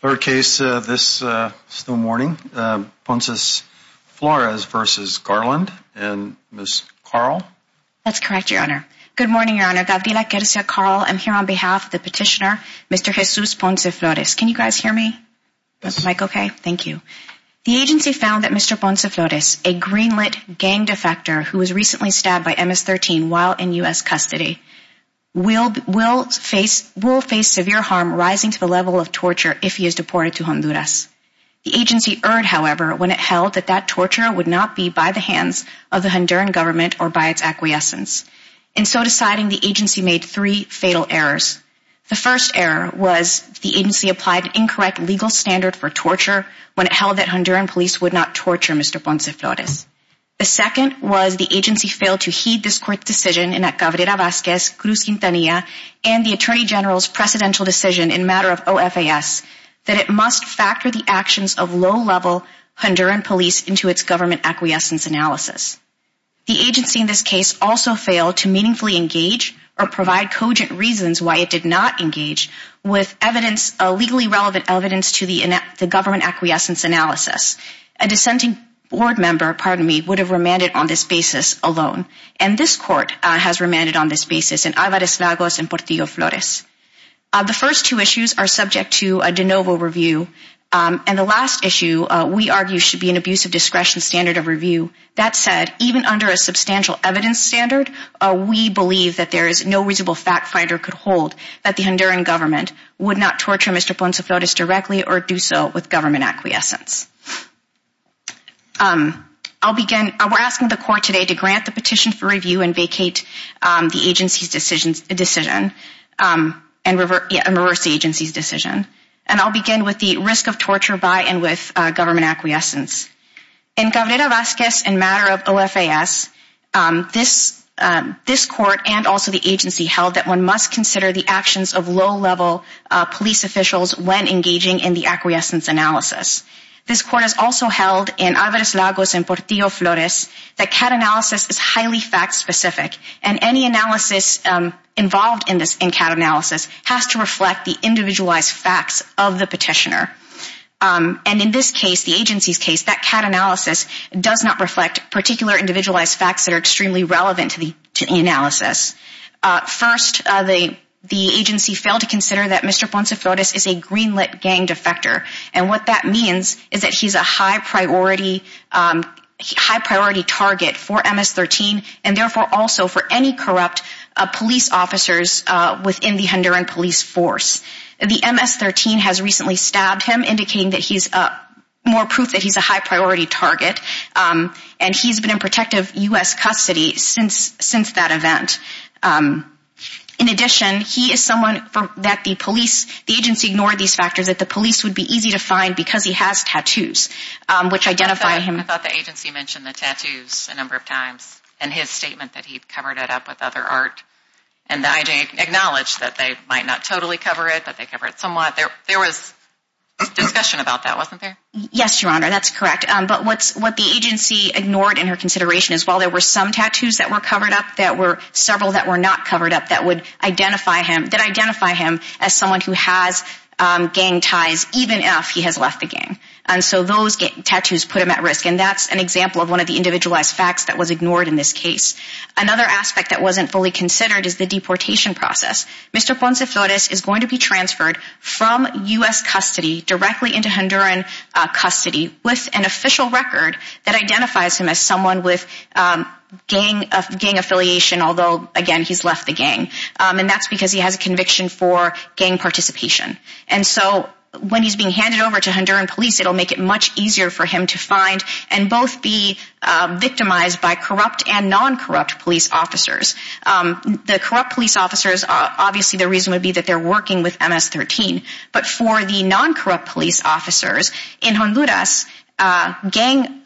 Third case this morning, Ponce-Flores v. Garland and Ms. Carl. That's correct, Your Honor. Good morning, Your Honor. Gabriela Querza, Carl. I'm here on behalf of the petitioner, Mr. Jesus Ponce-Flores. Can you guys hear me? Is the mic okay? Thank you. The agency found that Mr. Ponce-Flores, a green-lit gang defector who was recently stabbed by MS-13 while in U.S. custody, will face severe harm rising to the level of torture if he is deported to Honduras. The agency erred, however, when it held that that torture would not be by the hands of the Honduran government or by its acquiescence. In so deciding, the agency made three fatal errors. The first error was the agency applied an incorrect legal standard for torture when it held that Honduran police would not torture Mr. Ponce-Flores. The second was the agency failed to heed this court's decision, in that Gabriela Vazquez, Cruz Quintanilla, and the Attorney General's precedential decision in matter of OFAS, that it must factor the actions of low-level Honduran police into its government acquiescence analysis. The agency in this case also failed to meaningfully engage or provide cogent reasons why it did not engage with evidence, legally relevant evidence, to the government acquiescence analysis. A dissenting board member, pardon me, would have remanded on this basis alone. And this court has remanded on this basis in Alvarez-Lagos and Portillo-Flores. The first two issues are subject to a de novo review. And the last issue, we argue, should be an abuse of discretion standard of review. That said, even under a substantial evidence standard, we believe that there is no reasonable fact finder could hold that the Honduran government would not torture Mr. Ponce-Flores directly or do so with government acquiescence. We're asking the court today to grant the petition for review and vacate the agency's decision and reverse the agency's decision. And I'll begin with the risk of torture by and with government acquiescence. In Gavriela Vazquez in matter of OFAS, this court and also the agency held that one must consider the actions of low-level police officials when engaging in the acquiescence analysis. This court has also held in Alvarez-Lagos and Portillo-Flores that CAT analysis is highly fact-specific. And any analysis involved in CAT analysis has to reflect the individualized facts of the petitioner. And in this case, the agency's case, that CAT analysis does not reflect particular individualized facts that are extremely relevant to the analysis. First, the agency failed to consider that Mr. Ponce-Flores is a green-lit gang defector. And what that means is that he's a high-priority target for MS-13 and therefore also for any corrupt police officers within the Honduran police force. The MS-13 has recently stabbed him, indicating more proof that he's a high-priority target. And he's been in protective U.S. custody since that event. In addition, he is someone that the police, the agency ignored these factors that the police would be easy to find because he has tattoos, which identify him. I thought the agency mentioned the tattoos a number of times in his statement that he'd covered it up with other art. And the IG acknowledged that they might not totally cover it, but they cover it somewhat. There was discussion about that, wasn't there? Yes, Your Honor, that's correct. But what the agency ignored in her consideration is, while there were some tattoos that were covered up, there were several that were not covered up that would identify him, that identify him as someone who has gang ties, even if he has left the gang. And so those tattoos put him at risk. And that's an example of one of the individualized facts that was ignored in this case. Another aspect that wasn't fully considered is the deportation process. Mr. Ponce-Flores is going to be transferred from U.S. custody directly into Honduran custody with an official record that identifies him as someone with gang affiliation, although, again, he's left the gang. And that's because he has a conviction for gang participation. And so when he's being handed over to Honduran police, it'll make it much easier for him to find and both be victimized by corrupt and non-corrupt police officers. The corrupt police officers, obviously the reason would be that they're working with MS-13. But for the non-corrupt police officers in Honduras, gang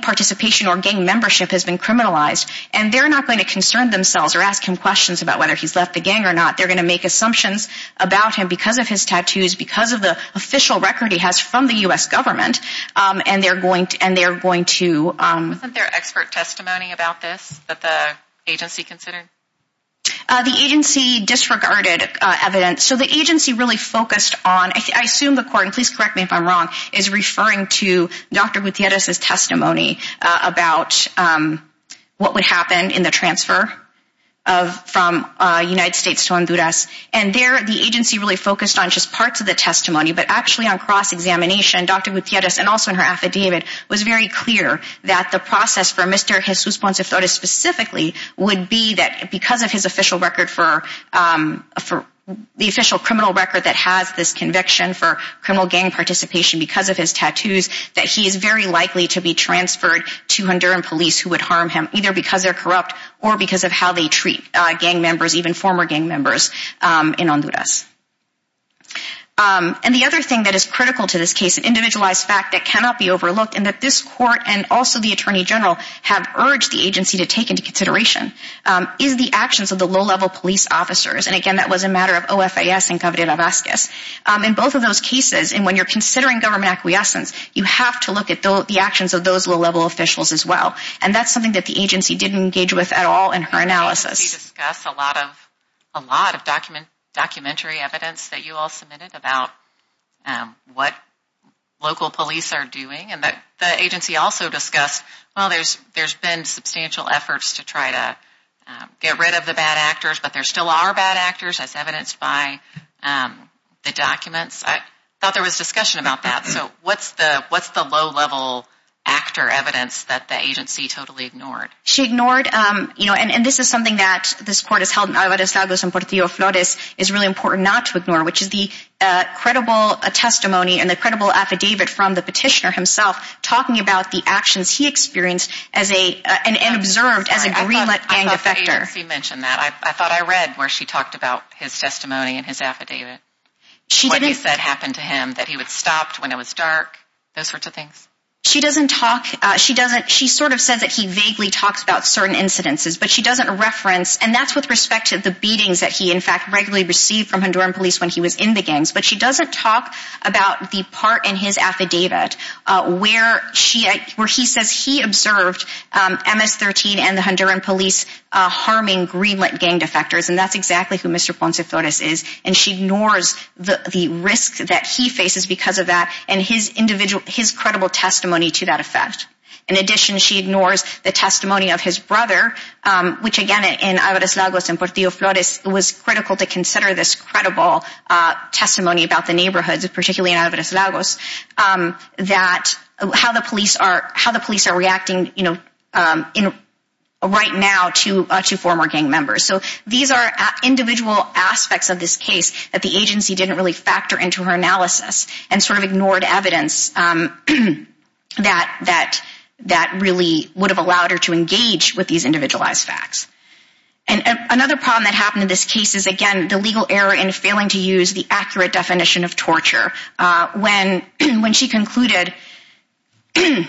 participation or gang membership has been criminalized, and they're not going to concern themselves or ask him questions about whether he's left the gang or not. They're going to make assumptions about him because of his tattoos, because of the official record he has from the U.S. government, and they're going to... Wasn't there expert testimony about this that the agency considered? The agency disregarded evidence. So the agency really focused on... I assume the court, and please correct me if I'm wrong, is referring to Dr. Gutierrez's testimony about what would happen in the transfer from the United States to Honduras. And there, the agency really focused on just parts of the testimony, but actually on cross-examination. Dr. Gutierrez, and also in her affidavit, was very clear that the process for Mr. Jesus Ponce de Torres specifically would be that because of his official record for... the official criminal record that has this conviction for criminal gang participation because of his tattoos, that he is very likely to be transferred to Honduran police who would harm him, either because they're corrupt or because of how they treat gang members, even former gang members in Honduras. And the other thing that is critical to this case, an individualized fact that cannot be overlooked, and that this court and also the attorney general have urged the agency to take into consideration, is the actions of the low-level police officers. And again, that was a matter of OFAS and Covid-19. In both of those cases, and when you're considering government acquiescence, you have to look at the actions of those low-level officials as well. And that's something that the agency didn't engage with at all in her analysis. The agency discussed a lot of documentary evidence that you all submitted about what local police are doing. And the agency also discussed, well, there's been substantial efforts to try to get rid of the bad actors, but there still are bad actors as evidenced by the documents. I thought there was discussion about that. So what's the low-level actor evidence that the agency totally ignored? She ignored, and this is something that this court has held in Alvarez Lagos and Portillo Flores is really important not to ignore, which is the credible testimony and the credible affidavit from the petitioner himself talking about the actions he experienced and observed as a green-lit gang defector. I thought the agency mentioned that. I thought I read where she talked about his testimony and his affidavit, what he said happened to him, that he would stop when it was dark, those sorts of things. She doesn't talk. She sort of says that he vaguely talks about certain incidences, but she doesn't reference, and that's with respect to the beatings that he in fact regularly received from Honduran police when he was in the gangs, but she doesn't talk about the part in his affidavit where he says he observed MS-13 and the Honduran police harming green-lit gang defectors, and that's exactly who Mr. Ponce Flores is, and she ignores the risks that he faces because of that and his credible testimony to that effect. In addition, she ignores the testimony of his brother, which again in Alvarez Lagos and Portillo Flores, it was critical to consider this credible testimony about the neighborhoods, particularly in Alvarez Lagos, how the police are reacting right now to former gang members. So these are individual aspects of this case that the agency didn't really factor into her analysis and sort of ignored evidence that really would have allowed her to engage with these individualized facts. Another problem that happened in this case is, again, the legal error in failing to use the accurate definition of torture. When she concluded that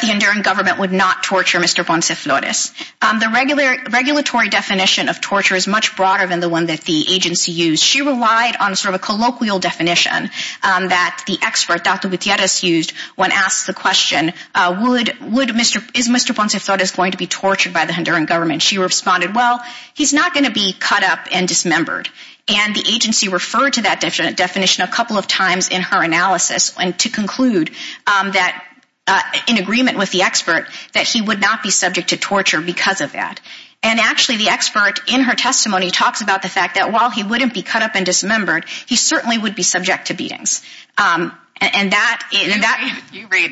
the Honduran government would not torture Mr. Ponce Flores, the regulatory definition of torture is much broader than the one that the agency used. She relied on sort of a colloquial definition that the expert, Dr. Gutierrez, used when asked the question, is Mr. Ponce Flores going to be tortured by the Honduran government? She responded, well, he's not going to be cut up and dismembered. And the agency referred to that definition a couple of times in her analysis to conclude in agreement with the expert that he would not be subject to torture because of that. And actually the expert in her testimony talks about the fact that while he wouldn't be cut up and dismembered, he certainly would be subject to beatings. You read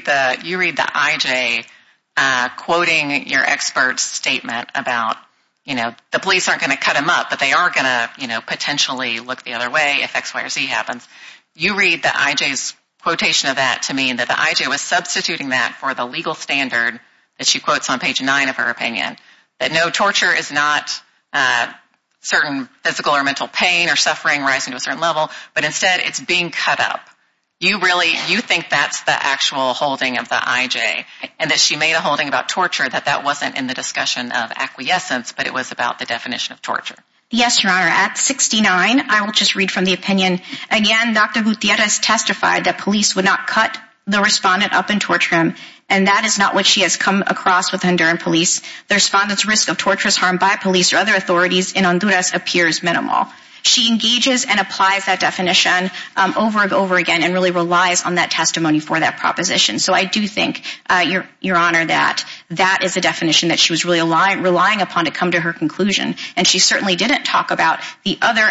the IJ quoting your expert's statement about the police aren't going to cut him up, but they are going to potentially look the other way if X, Y, or Z happens. You read the IJ's quotation of that to mean that the IJ was substituting that for the legal standard that she quotes on page 9 of her opinion, that no, torture is not certain physical or mental pain or suffering rising to a certain level, but instead it's being cut up. You really, you think that's the actual holding of the IJ? And that she made a holding about torture, that that wasn't in the discussion of acquiescence, but it was about the definition of torture? Yes, Your Honor. At 69, I will just read from the opinion. Again, Dr. Gutierrez testified that police would not cut the respondent up and torture him, and that is not what she has come across with Honduran police. The respondent's risk of torturous harm by police or other authorities in Honduras appears minimal. She engages and applies that definition over and over again and really relies on that testimony for that proposition. So I do think, Your Honor, that that is the definition that she was really relying upon to come to her conclusion, and she certainly didn't talk about the other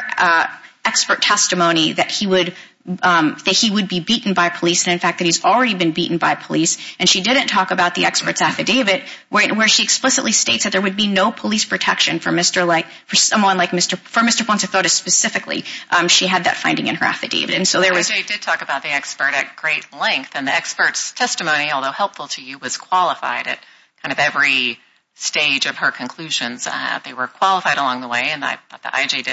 expert testimony that he would be beaten by police, and in fact that he's already been beaten by police, and she didn't talk about the expert's affidavit where she explicitly states that there would be no police protection for someone like Mr. Ponce-Fotis specifically. She had that finding in her affidavit. IJ did talk about the expert at great length, and the expert's testimony, although helpful to you, was qualified at kind of every stage of her conclusions. They were qualified along the way, and I thought the IJ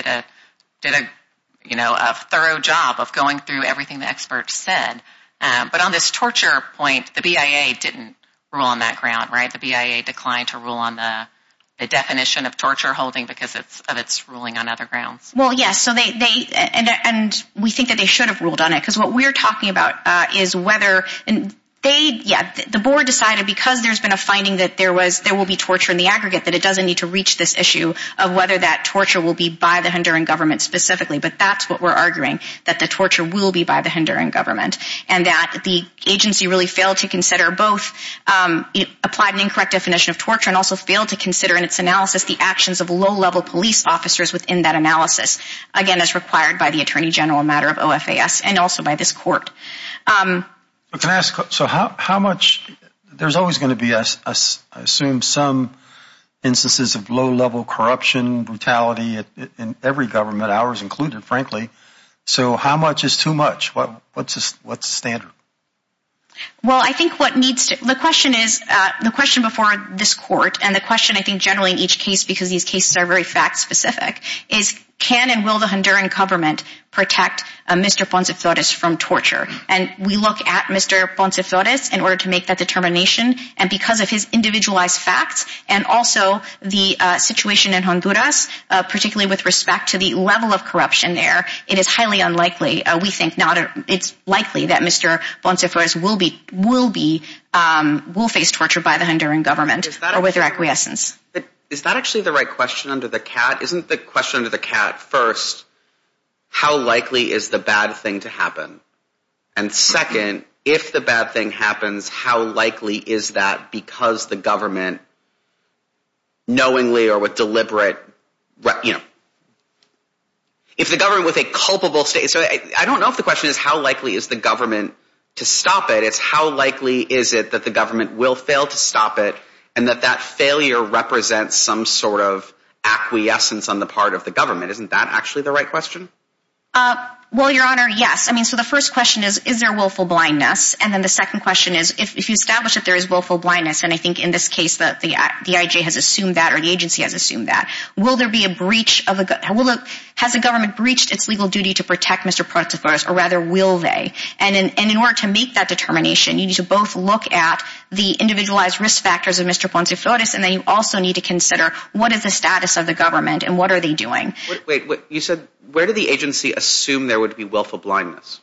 did a thorough job of going through everything the expert said. But on this torture point, the BIA didn't rule on that ground, right? The BIA declined to rule on the definition of torture holding because of its ruling on other grounds. Well, yes, and we think that they should have ruled on it, because what we're talking about is whether they, yeah, the board decided because there's been a finding that there will be torture in the aggregate that it doesn't need to reach this issue of whether that torture will be by the Honduran government specifically. But that's what we're arguing, that the torture will be by the Honduran government, and that the agency really failed to consider both, applied an incorrect definition of torture and also failed to consider in its analysis the actions of low-level police officers within that analysis, again, as required by the attorney general matter of OFAS and also by this court. Can I ask, so how much, there's always going to be, I assume, some instances of low-level corruption, brutality in every government, ours included, frankly, so how much is too much? What's the standard? Well, I think what needs to, the question is, the question before this court and the question I think generally in each case, because these cases are very fact-specific, is can and will the Honduran government protect Mr. Ponce-Forez from torture? And we look at Mr. Ponce-Forez in order to make that determination, and because of his individualized facts and also the situation in Honduras, particularly with respect to the level of corruption there, it is highly unlikely, we think, it's likely that Mr. Ponce-Forez will be, will face torture by the Honduran government or with their acquiescence. Is that actually the right question under the cat? Isn't the question under the cat, first, how likely is the bad thing to happen? And second, if the bad thing happens, how likely is that because the government knowingly or with deliberate, you know, if the government with a culpable state, so I don't know if the question is how likely is the government to stop it. It's how likely is it that the government will fail to stop it and that that failure represents some sort of acquiescence on the part of the government. Isn't that actually the right question? Well, Your Honor, yes. I mean, so the first question is, is there willful blindness? And then the second question is, if you establish that there is willful blindness, and I think in this case the IJ has assumed that or the agency has assumed that, will there be a breach of, has the government breached its legal duty to protect Mr. Ponce-Forez or rather will they? And in order to make that determination, you need to both look at the individualized risk factors of Mr. Ponce-Forez and then you also need to consider what is the status of the government and what are they doing. Wait, you said, where did the agency assume there would be willful blindness?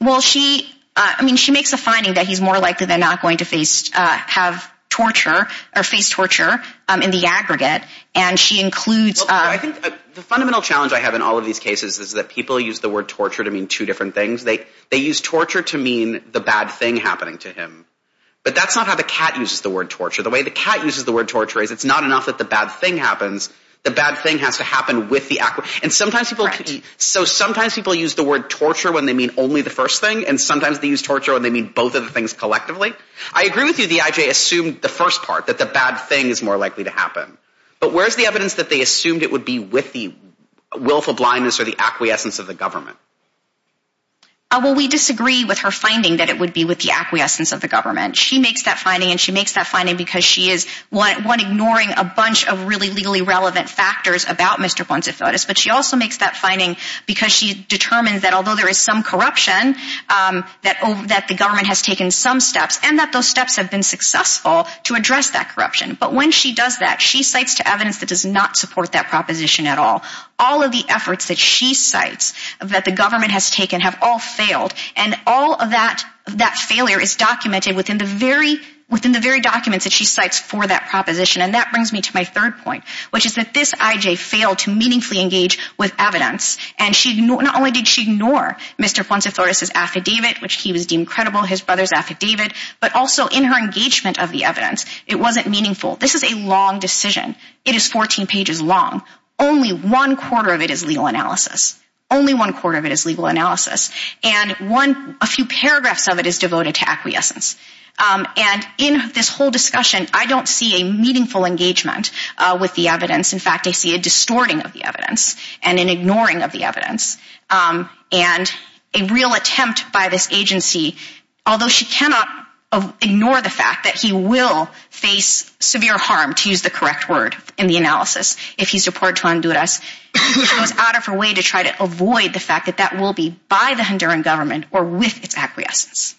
Well, she, I mean, she makes a finding that he's more likely than not going to face, have torture or face torture in the aggregate. And she includes... The fundamental challenge I have in all of these cases is that people use the word torture to mean two different things. They use torture to mean the bad thing happening to him. But that's not how the cat uses the word torture. The way the cat uses the word torture is it's not enough that the bad thing happens, the bad thing has to happen with the... And sometimes people... Correct. So sometimes people use the word torture when they mean only the first thing and sometimes they use torture when they mean both of the things collectively. I agree with you the IJ assumed the first part, that the bad thing is more likely to happen. But where's the evidence that they assumed it would be with the willful blindness or the acquiescence of the government? Well, we disagree with her finding that it would be with the acquiescence of the government. She makes that finding and she makes that finding because she is, one, ignoring a bunch of really legally relevant factors about Mr. Bonifatus, but she also makes that finding because she determines that although there is some corruption, that the government has taken some steps and that those steps have been successful to address that corruption. But when she does that, she cites to evidence that does not support that proposition at all. All of the efforts that she cites that the government has taken have all failed and all of that failure is documented within the very documents that she cites for that proposition. And that brings me to my third point, which is that this IJ failed to meaningfully engage with evidence. And not only did she ignore Mr. Fuentes Flores' affidavit, which he was deemed credible, his brother's affidavit, but also in her engagement of the evidence, it wasn't meaningful. This is a long decision. It is 14 pages long. Only one quarter of it is legal analysis. Only one quarter of it is legal analysis. And a few paragraphs of it is devoted to acquiescence. And in this whole discussion, I don't see a meaningful engagement with the evidence. In fact, I see a distorting of the evidence and an ignoring of the evidence. And a real attempt by this agency, although she cannot ignore the fact that he will face severe harm, to use the correct word in the analysis, if he's deported to Honduras, she goes out of her way to try to avoid the fact that that will be by the Honduran government or with its acquiescence.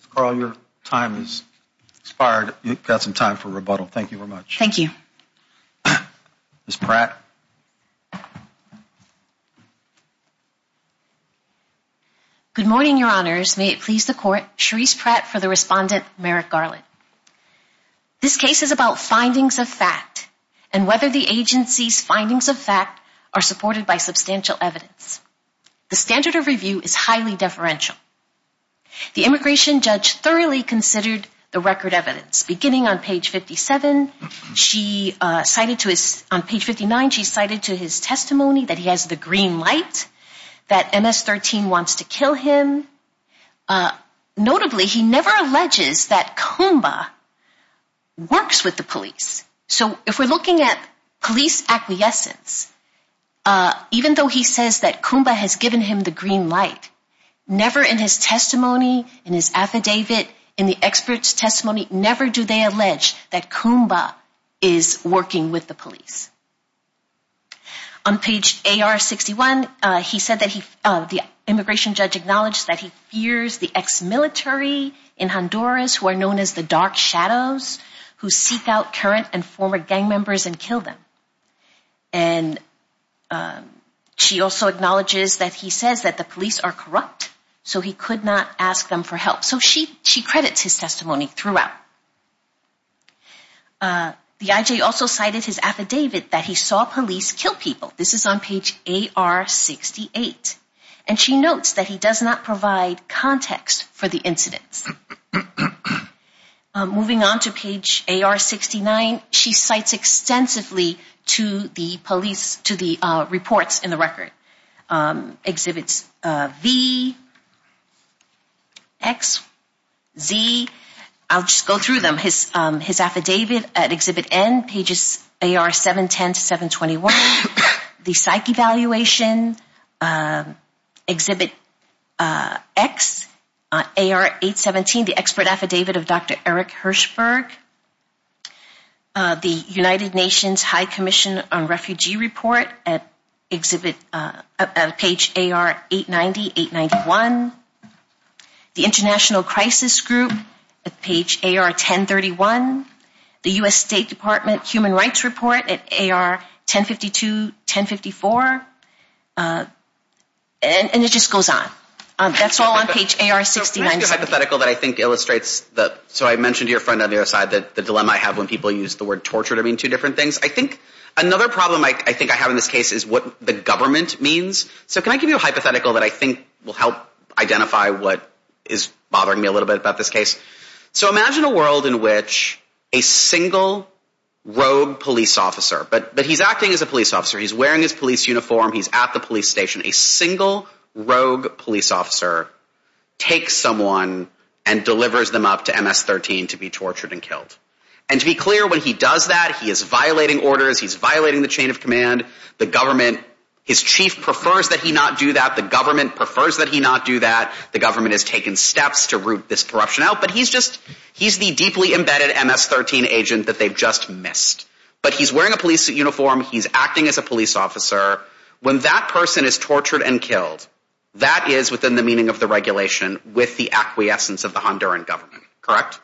Ms. Carl, your time has expired. You've got some time for rebuttal. Thank you very much. Thank you. Ms. Pratt. Good morning, Your Honors. May it please the Court. Charisse Pratt for the Respondent, Merrick Garland. This case is about findings of fact and whether the agency's findings of fact are supported by substantial evidence. The standard of review is highly deferential. The immigration judge thoroughly considered the record evidence. Beginning on page 57, she cited to his, on page 59, she cited to his testimony that he has the green light, that MS-13 wants to kill him. Notably, he never alleges that Kumba works with the police. So if we're looking at police acquiescence, even though he says that Kumba has given him the green light, never in his testimony, in his affidavit, in the expert's testimony, never do they allege that Kumba is working with the police. On page AR-61, he said that he, the immigration judge acknowledged that he fears the ex-military in Honduras who are known as the Dark Shadows, who seek out current and former gang members and kill them. And she also acknowledges that he says that the police are corrupt, so he could not ask them for help. So she credits his testimony throughout. The IJ also cited his affidavit that he saw police kill people. This is on page AR-68. And she notes that he does not provide context for the incidents. Moving on to page AR-69, she cites extensively to the police, to the reports in the record. Exhibits V, X, Z. I'll just go through them. His affidavit at Exhibit N, pages AR-710 to 721, the psych evaluation, Exhibit X, AR-817, the expert affidavit of Dr. Eric Hirschberg, the United Nations High Commission on Refugee Report at page AR-890, 891, the International Crisis Group at page AR-1031, the U.S. State Department Human Rights Report at AR-1052, 1054. And it just goes on. That's all on page AR-69. Can I give you a hypothetical that I think illustrates the – so I mentioned to your friend on the other side the dilemma I have when people use the word torture to mean two different things. I think another problem I think I have in this case is what the government means. So can I give you a hypothetical that I think will help identify what is bothering me a little bit about this case? So imagine a world in which a single rogue police officer – but he's acting as a police officer. He's wearing his police uniform. He's at the police station. A single rogue police officer takes someone and delivers them up to MS-13 to be tortured and killed. And to be clear, when he does that, he is violating orders. He's violating the chain of command. The government – his chief prefers that he not do that. The government prefers that he not do that. The government has taken steps to root this corruption out. But he's just – he's the deeply embedded MS-13 agent that they've just missed. But he's wearing a police uniform. He's acting as a police officer. When that person is tortured and killed, that is within the meaning of the regulation with the acquiescence of the Honduran government. Correct?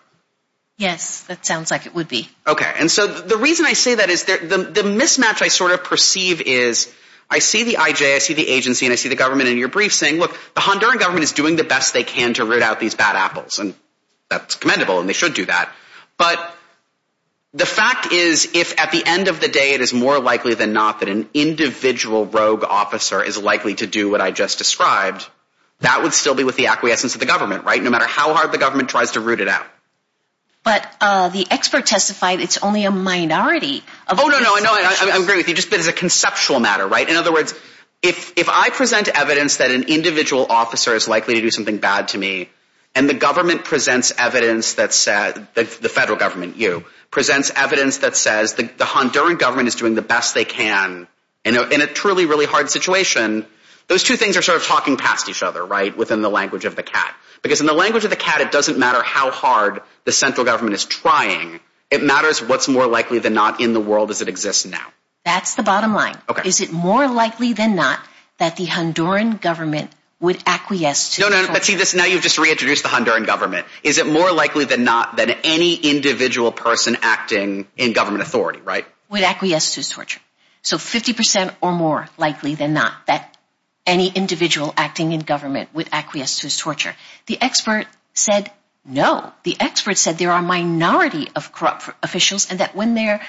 Yes, that sounds like it would be. Okay. And so the reason I say that is the mismatch I sort of perceive is I see the IJ, I see the agency, and I see the government in your brief saying, look, the Honduran government is doing the best they can to root out these bad apples. And that's commendable, and they should do that. But the fact is, if at the end of the day it is more likely than not that an individual rogue officer is likely to do what I just described, that would still be with the acquiescence of the government, right, no matter how hard the government tries to root it out. But the expert testified it's only a minority. Oh, no, no, no, I agree with you. It's just a conceptual matter, right? In other words, if I present evidence that an individual officer is likely to do something bad to me and the government presents evidence that says, the federal government, you, presents evidence that says the Honduran government is doing the best they can in a truly, really hard situation, those two things are sort of talking past each other, right, within the language of the cat. Because in the language of the cat, it doesn't matter how hard the central government is trying. It matters what's more likely than not in the world as it exists now. That's the bottom line. Is it more likely than not that the Honduran government would acquiesce to torture? No, no, no, see, now you've just reintroduced the Honduran government. Is it more likely than not that any individual person acting in government authority, right, would acquiesce to torture? So 50% or more likely than not that any individual acting in government would acquiesce to torture. The expert said no. The expert said there are a minority of corrupt officials and that when they're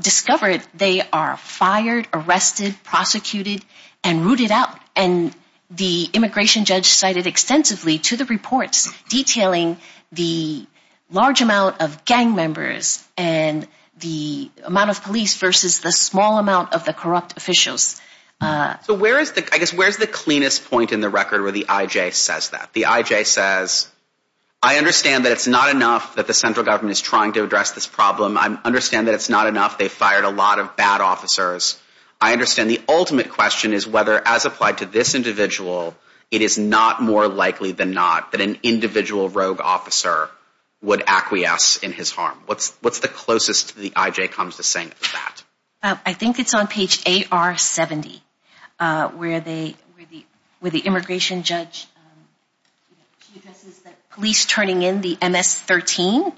discovered, they are fired, arrested, prosecuted, and rooted out. And the immigration judge cited extensively to the reports detailing the large amount of gang members and the amount of police versus the small amount of the corrupt officials. So where is the cleanest point in the record where the IJ says that? The IJ says, I understand that it's not enough that the central government is trying to address this problem. I understand that it's not enough they fired a lot of bad officers. I understand the ultimate question is whether, as applied to this individual, it is not more likely than not that an individual rogue officer would acquiesce in his harm. What's the closest the IJ comes to saying that? I think it's on page AR70 where the immigration judge addresses the police turning in the MS-13.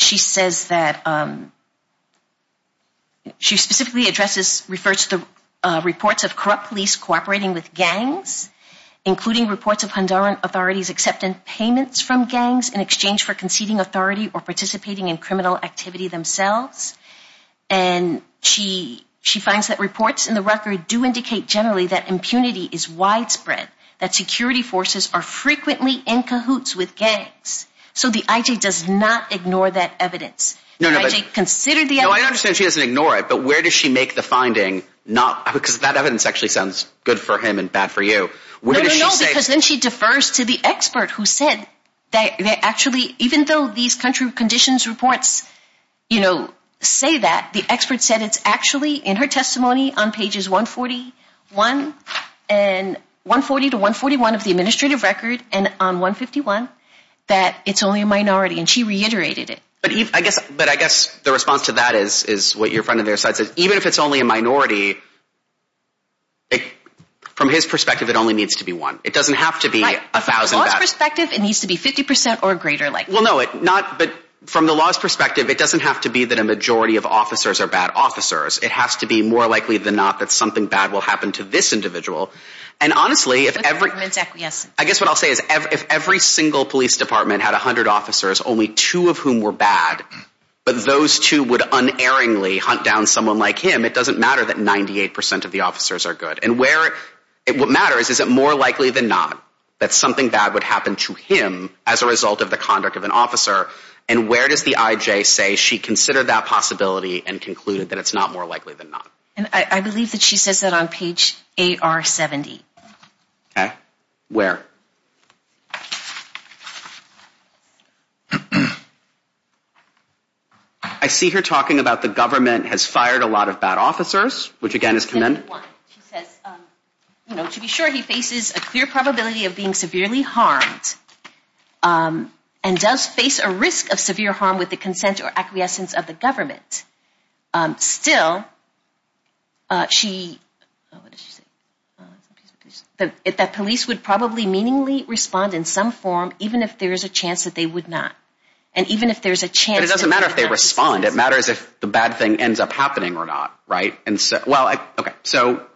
She specifically refers to the reports of corrupt police cooperating with gangs, including reports of Honduran authorities accepting payments from gangs in exchange for conceding authority or participating in criminal activity themselves. And she finds that reports in the record do indicate generally that impunity is widespread, that security forces are frequently in cahoots with gangs. So the IJ does not ignore that evidence. No, I understand she doesn't ignore it, but where does she make the finding? Because that evidence actually sounds good for him and bad for you. No, because then she defers to the expert who said that actually, even though these country conditions reports say that, the expert said it's actually in her testimony on pages 140 to 141 of the administrative record and on 151 that it's only a minority, and she reiterated it. But I guess the response to that is what your friend on their side said. Even if it's only a minority, from his perspective, it only needs to be one. It doesn't have to be 1,000 bad. From the law's perspective, it needs to be 50% or greater likely. Well, no, but from the law's perspective, it doesn't have to be that a majority of officers are bad officers. It has to be more likely than not that something bad will happen to this individual. And honestly, I guess what I'll say is if every single police department had 100 officers, only two of whom were bad, but those two would unerringly hunt down someone like him, it doesn't matter that 98% of the officers are good. And what matters is it more likely than not that something bad would happen to him as a result of the conduct of an officer, and where does the IJ say she considered that possibility and concluded that it's not more likely than not? I believe that she says that on page 8R70. Okay. Where? I see her talking about the government has fired a lot of bad officers, which again is commendable. She says, you know, to be sure, he faces a clear probability of being severely harmed and does face a risk of severe harm with the consent or acquiescence of the government. Still, she, what did she say? That police would probably meaningly respond in some form even if there is a chance that they would not. And even if there is a chance. But it doesn't matter if they respond. It matters if the bad thing ends up happening or not, right? And so, well, okay, so.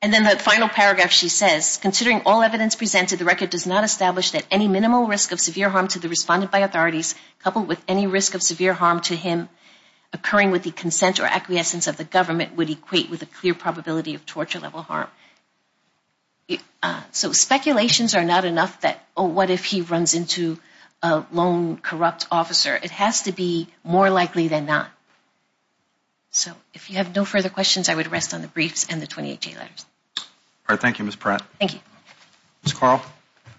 And then the final paragraph she says, considering all evidence presented, the record does not establish that any minimal risk of severe harm to the respondent by authorities coupled with any risk of severe harm to him occurring with the consent or acquiescence of the government would equate with a clear probability of torture-level harm. So speculations are not enough that, oh, what if he runs into a lone corrupt officer? It has to be more likely than not. So if you have no further questions, I would rest on the briefs and the 28J letters. All right. Thank you, Ms. Pratt. Ms. Carl.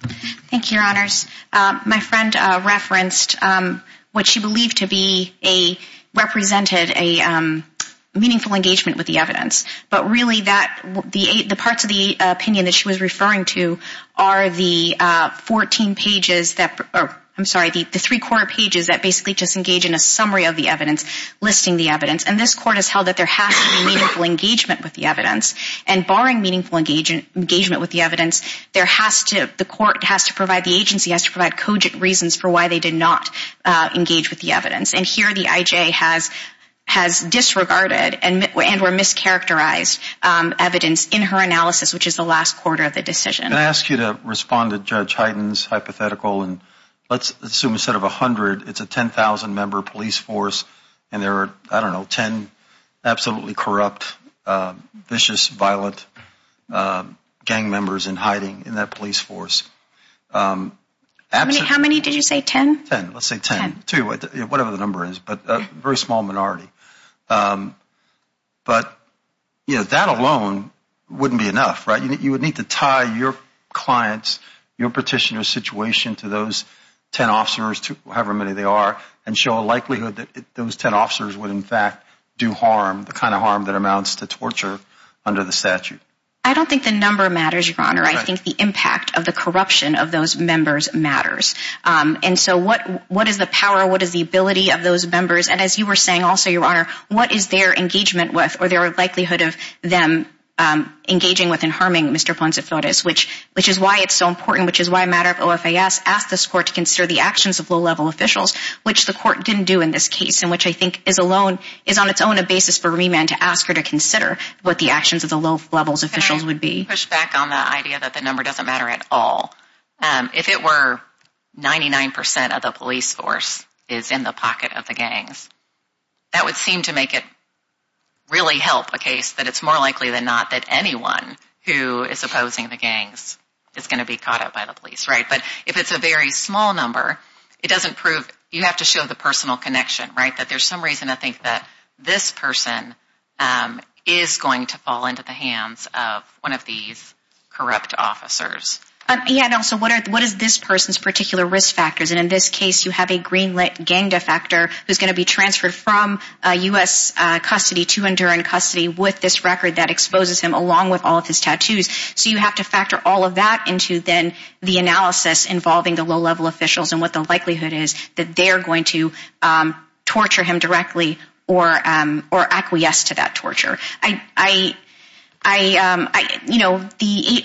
Thank you, Your Honors. My friend referenced what she believed to be a, represented a meaningful engagement with the evidence. But really that, the parts of the opinion that she was referring to are the 14 pages that, I'm sorry, the three-quarter pages that basically just engage in a summary of the evidence, listing the evidence. And this Court has held that there has to be meaningful engagement with the evidence. And barring meaningful engagement with the evidence, there has to, the Court has to provide, the agency has to provide cogent reasons for why they did not engage with the evidence. And here the IJ has disregarded and or mischaracterized evidence in her analysis, which is the last quarter of the decision. Can I ask you to respond to Judge Hyten's hypothetical? And let's assume instead of 100, it's a 10,000-member police force, and there are, I don't know, 10 absolutely corrupt, vicious, violent gang members in hiding in that police force. How many did you say, 10? Ten. Let's say 10. Ten. Whatever the number is, but a very small minority. But, you know, that alone wouldn't be enough, right? You would need to tie your client's, your petitioner's situation to those 10 officers, however many they are, and show a likelihood that those 10 officers would in fact do harm, the kind of harm that amounts to torture under the statute. I don't think the number matters, Your Honor. I think the impact of the corruption of those members matters. And so what is the power, what is the ability of those members? And as you were saying also, Your Honor, what is their engagement with or their likelihood of them engaging with and harming Mr. Ponce de Flores, which is why it's so important, which is why a matter of OFAS asked this court to consider the actions of low-level officials, which the court didn't do in this case, and which I think is alone, is on its own a basis for remand to ask her to consider what the actions of the low-level officials would be. Can I push back on the idea that the number doesn't matter at all? If it were 99 percent of the police force is in the pocket of the gangs, that would seem to make it really help a case that it's more likely than not that anyone who is opposing the gangs is going to be caught up by the police, right? But if it's a very small number, it doesn't prove, you have to show the personal connection, right, that there's some reason I think that this person is going to fall into the hands of one of these corrupt officers. Yeah, and also what is this person's particular risk factors? And in this case, you have a green-lit gang defector who's going to be transferred from U.S. custody to Enduran custody with this record that exposes him along with all of his tattoos. So you have to factor all of that into then the analysis involving the low-level officials and what the likelihood is that they're going to torture him directly or acquiesce to that torture. I, you know, the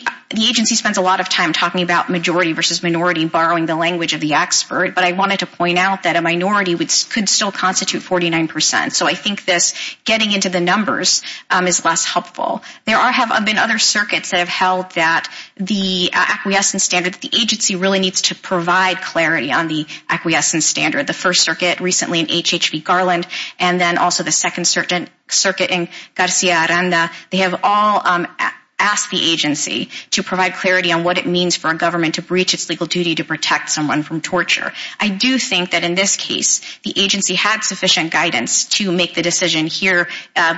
agency spends a lot of time talking about majority versus minority, borrowing the language of the expert, but I wanted to point out that a minority could still constitute 49 percent. So I think this getting into the numbers is less helpful. There have been other circuits that have held that the acquiescence standard, the agency really needs to provide clarity on the acquiescence standard. The first circuit recently in HHV Garland and then also the second circuit in Garcia Aranda, they have all asked the agency to provide clarity on what it means for a government to breach its legal duty to protect someone from torture. I do think that in this case, the agency had sufficient guidance to make the decision here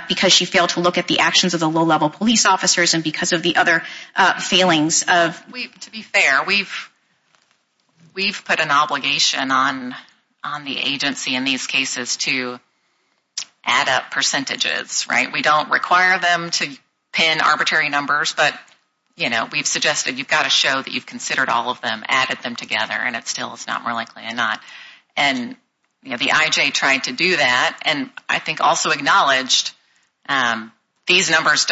because she failed to look at the actions of the low-level police officers and because of the other failings. To be fair, we've put an obligation on the agency in these cases to add up percentages, right? We don't require them to pin arbitrary numbers, but, you know, we've suggested you've got to show that you've considered all of them, added them together, and it still is not more likely than not. And the IJ tried to do that and I think also acknowledged these numbers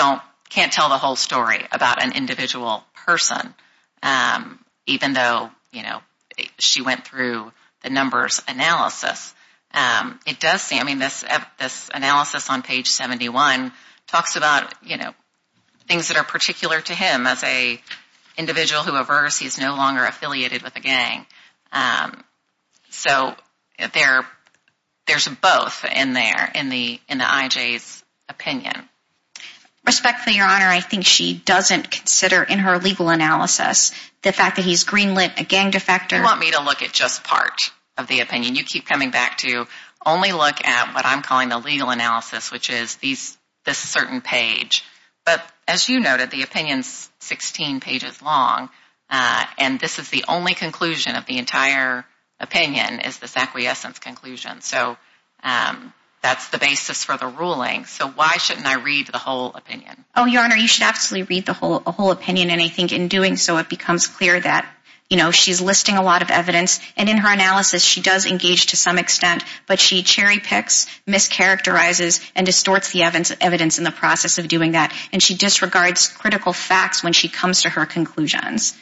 can't tell the whole story about an individual person even though, you know, she went through the numbers analysis. It does say, I mean, this analysis on page 71 talks about, you know, things that are particular to him as an individual who averts, he's no longer affiliated with a gang. So there's both in there in the IJ's opinion. Respectfully, Your Honor, I think she doesn't consider in her legal analysis the fact that he's greenlit a gang defector. You want me to look at just part of the opinion? You keep coming back to only look at what I'm calling the legal analysis, which is this certain page. But as you noted, the opinion's 16 pages long, and this is the only conclusion of the entire opinion is this acquiescence conclusion. So that's the basis for the ruling. So why shouldn't I read the whole opinion? Oh, Your Honor, you should absolutely read the whole opinion. And I think in doing so, it becomes clear that, you know, she's listing a lot of evidence. And in her analysis, she does engage to some extent, but she cherry picks, mischaracterizes and distorts the evidence in the process of doing that. And she disregards critical facts when she comes to her conclusions.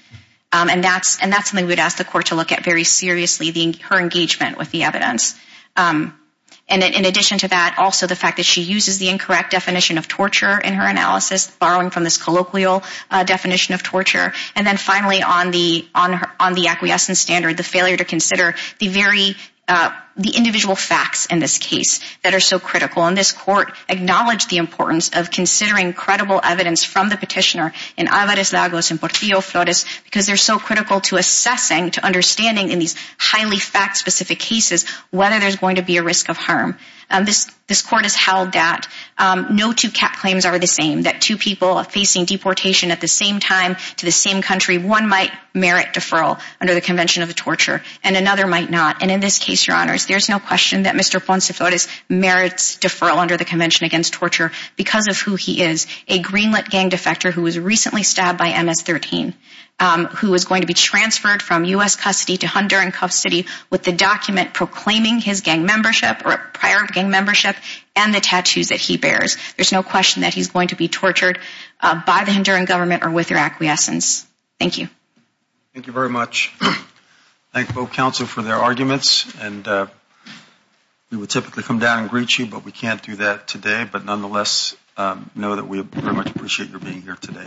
And that's something we'd ask the court to look at very seriously, her engagement with the evidence. And in addition to that, also the fact that she uses the incorrect definition of torture in her analysis, borrowing from this colloquial definition of torture. And then finally, on the acquiescence standard, the failure to consider the individual facts in this case that are so critical. And this court acknowledged the importance of considering credible evidence from the petitioner in Avares-Lagos, in Portillo-Flores, because they're so critical to assessing, to understanding in these highly fact-specific cases, whether there's going to be a risk of harm. This court has held that no two claims are the same, that two people facing deportation at the same time to the same country, one might merit deferral under the Convention of Torture, and another might not. And in this case, Your Honors, there's no question that Mr. Ponce-Flores merits deferral under the Convention against Torture because of who he is, a Greenlit gang defector who was recently stabbed by MS-13, who is going to be transferred from U.S. custody to Honduran custody with the document proclaiming his gang membership or prior gang membership and the tattoos that he bears. There's no question that he's going to be tortured by the Honduran government or with their acquiescence. Thank you. Thank you very much. Thank both counsel for their arguments, and we would typically come down and greet you, but we can't do that today. But nonetheless, know that we very much appreciate your being here today.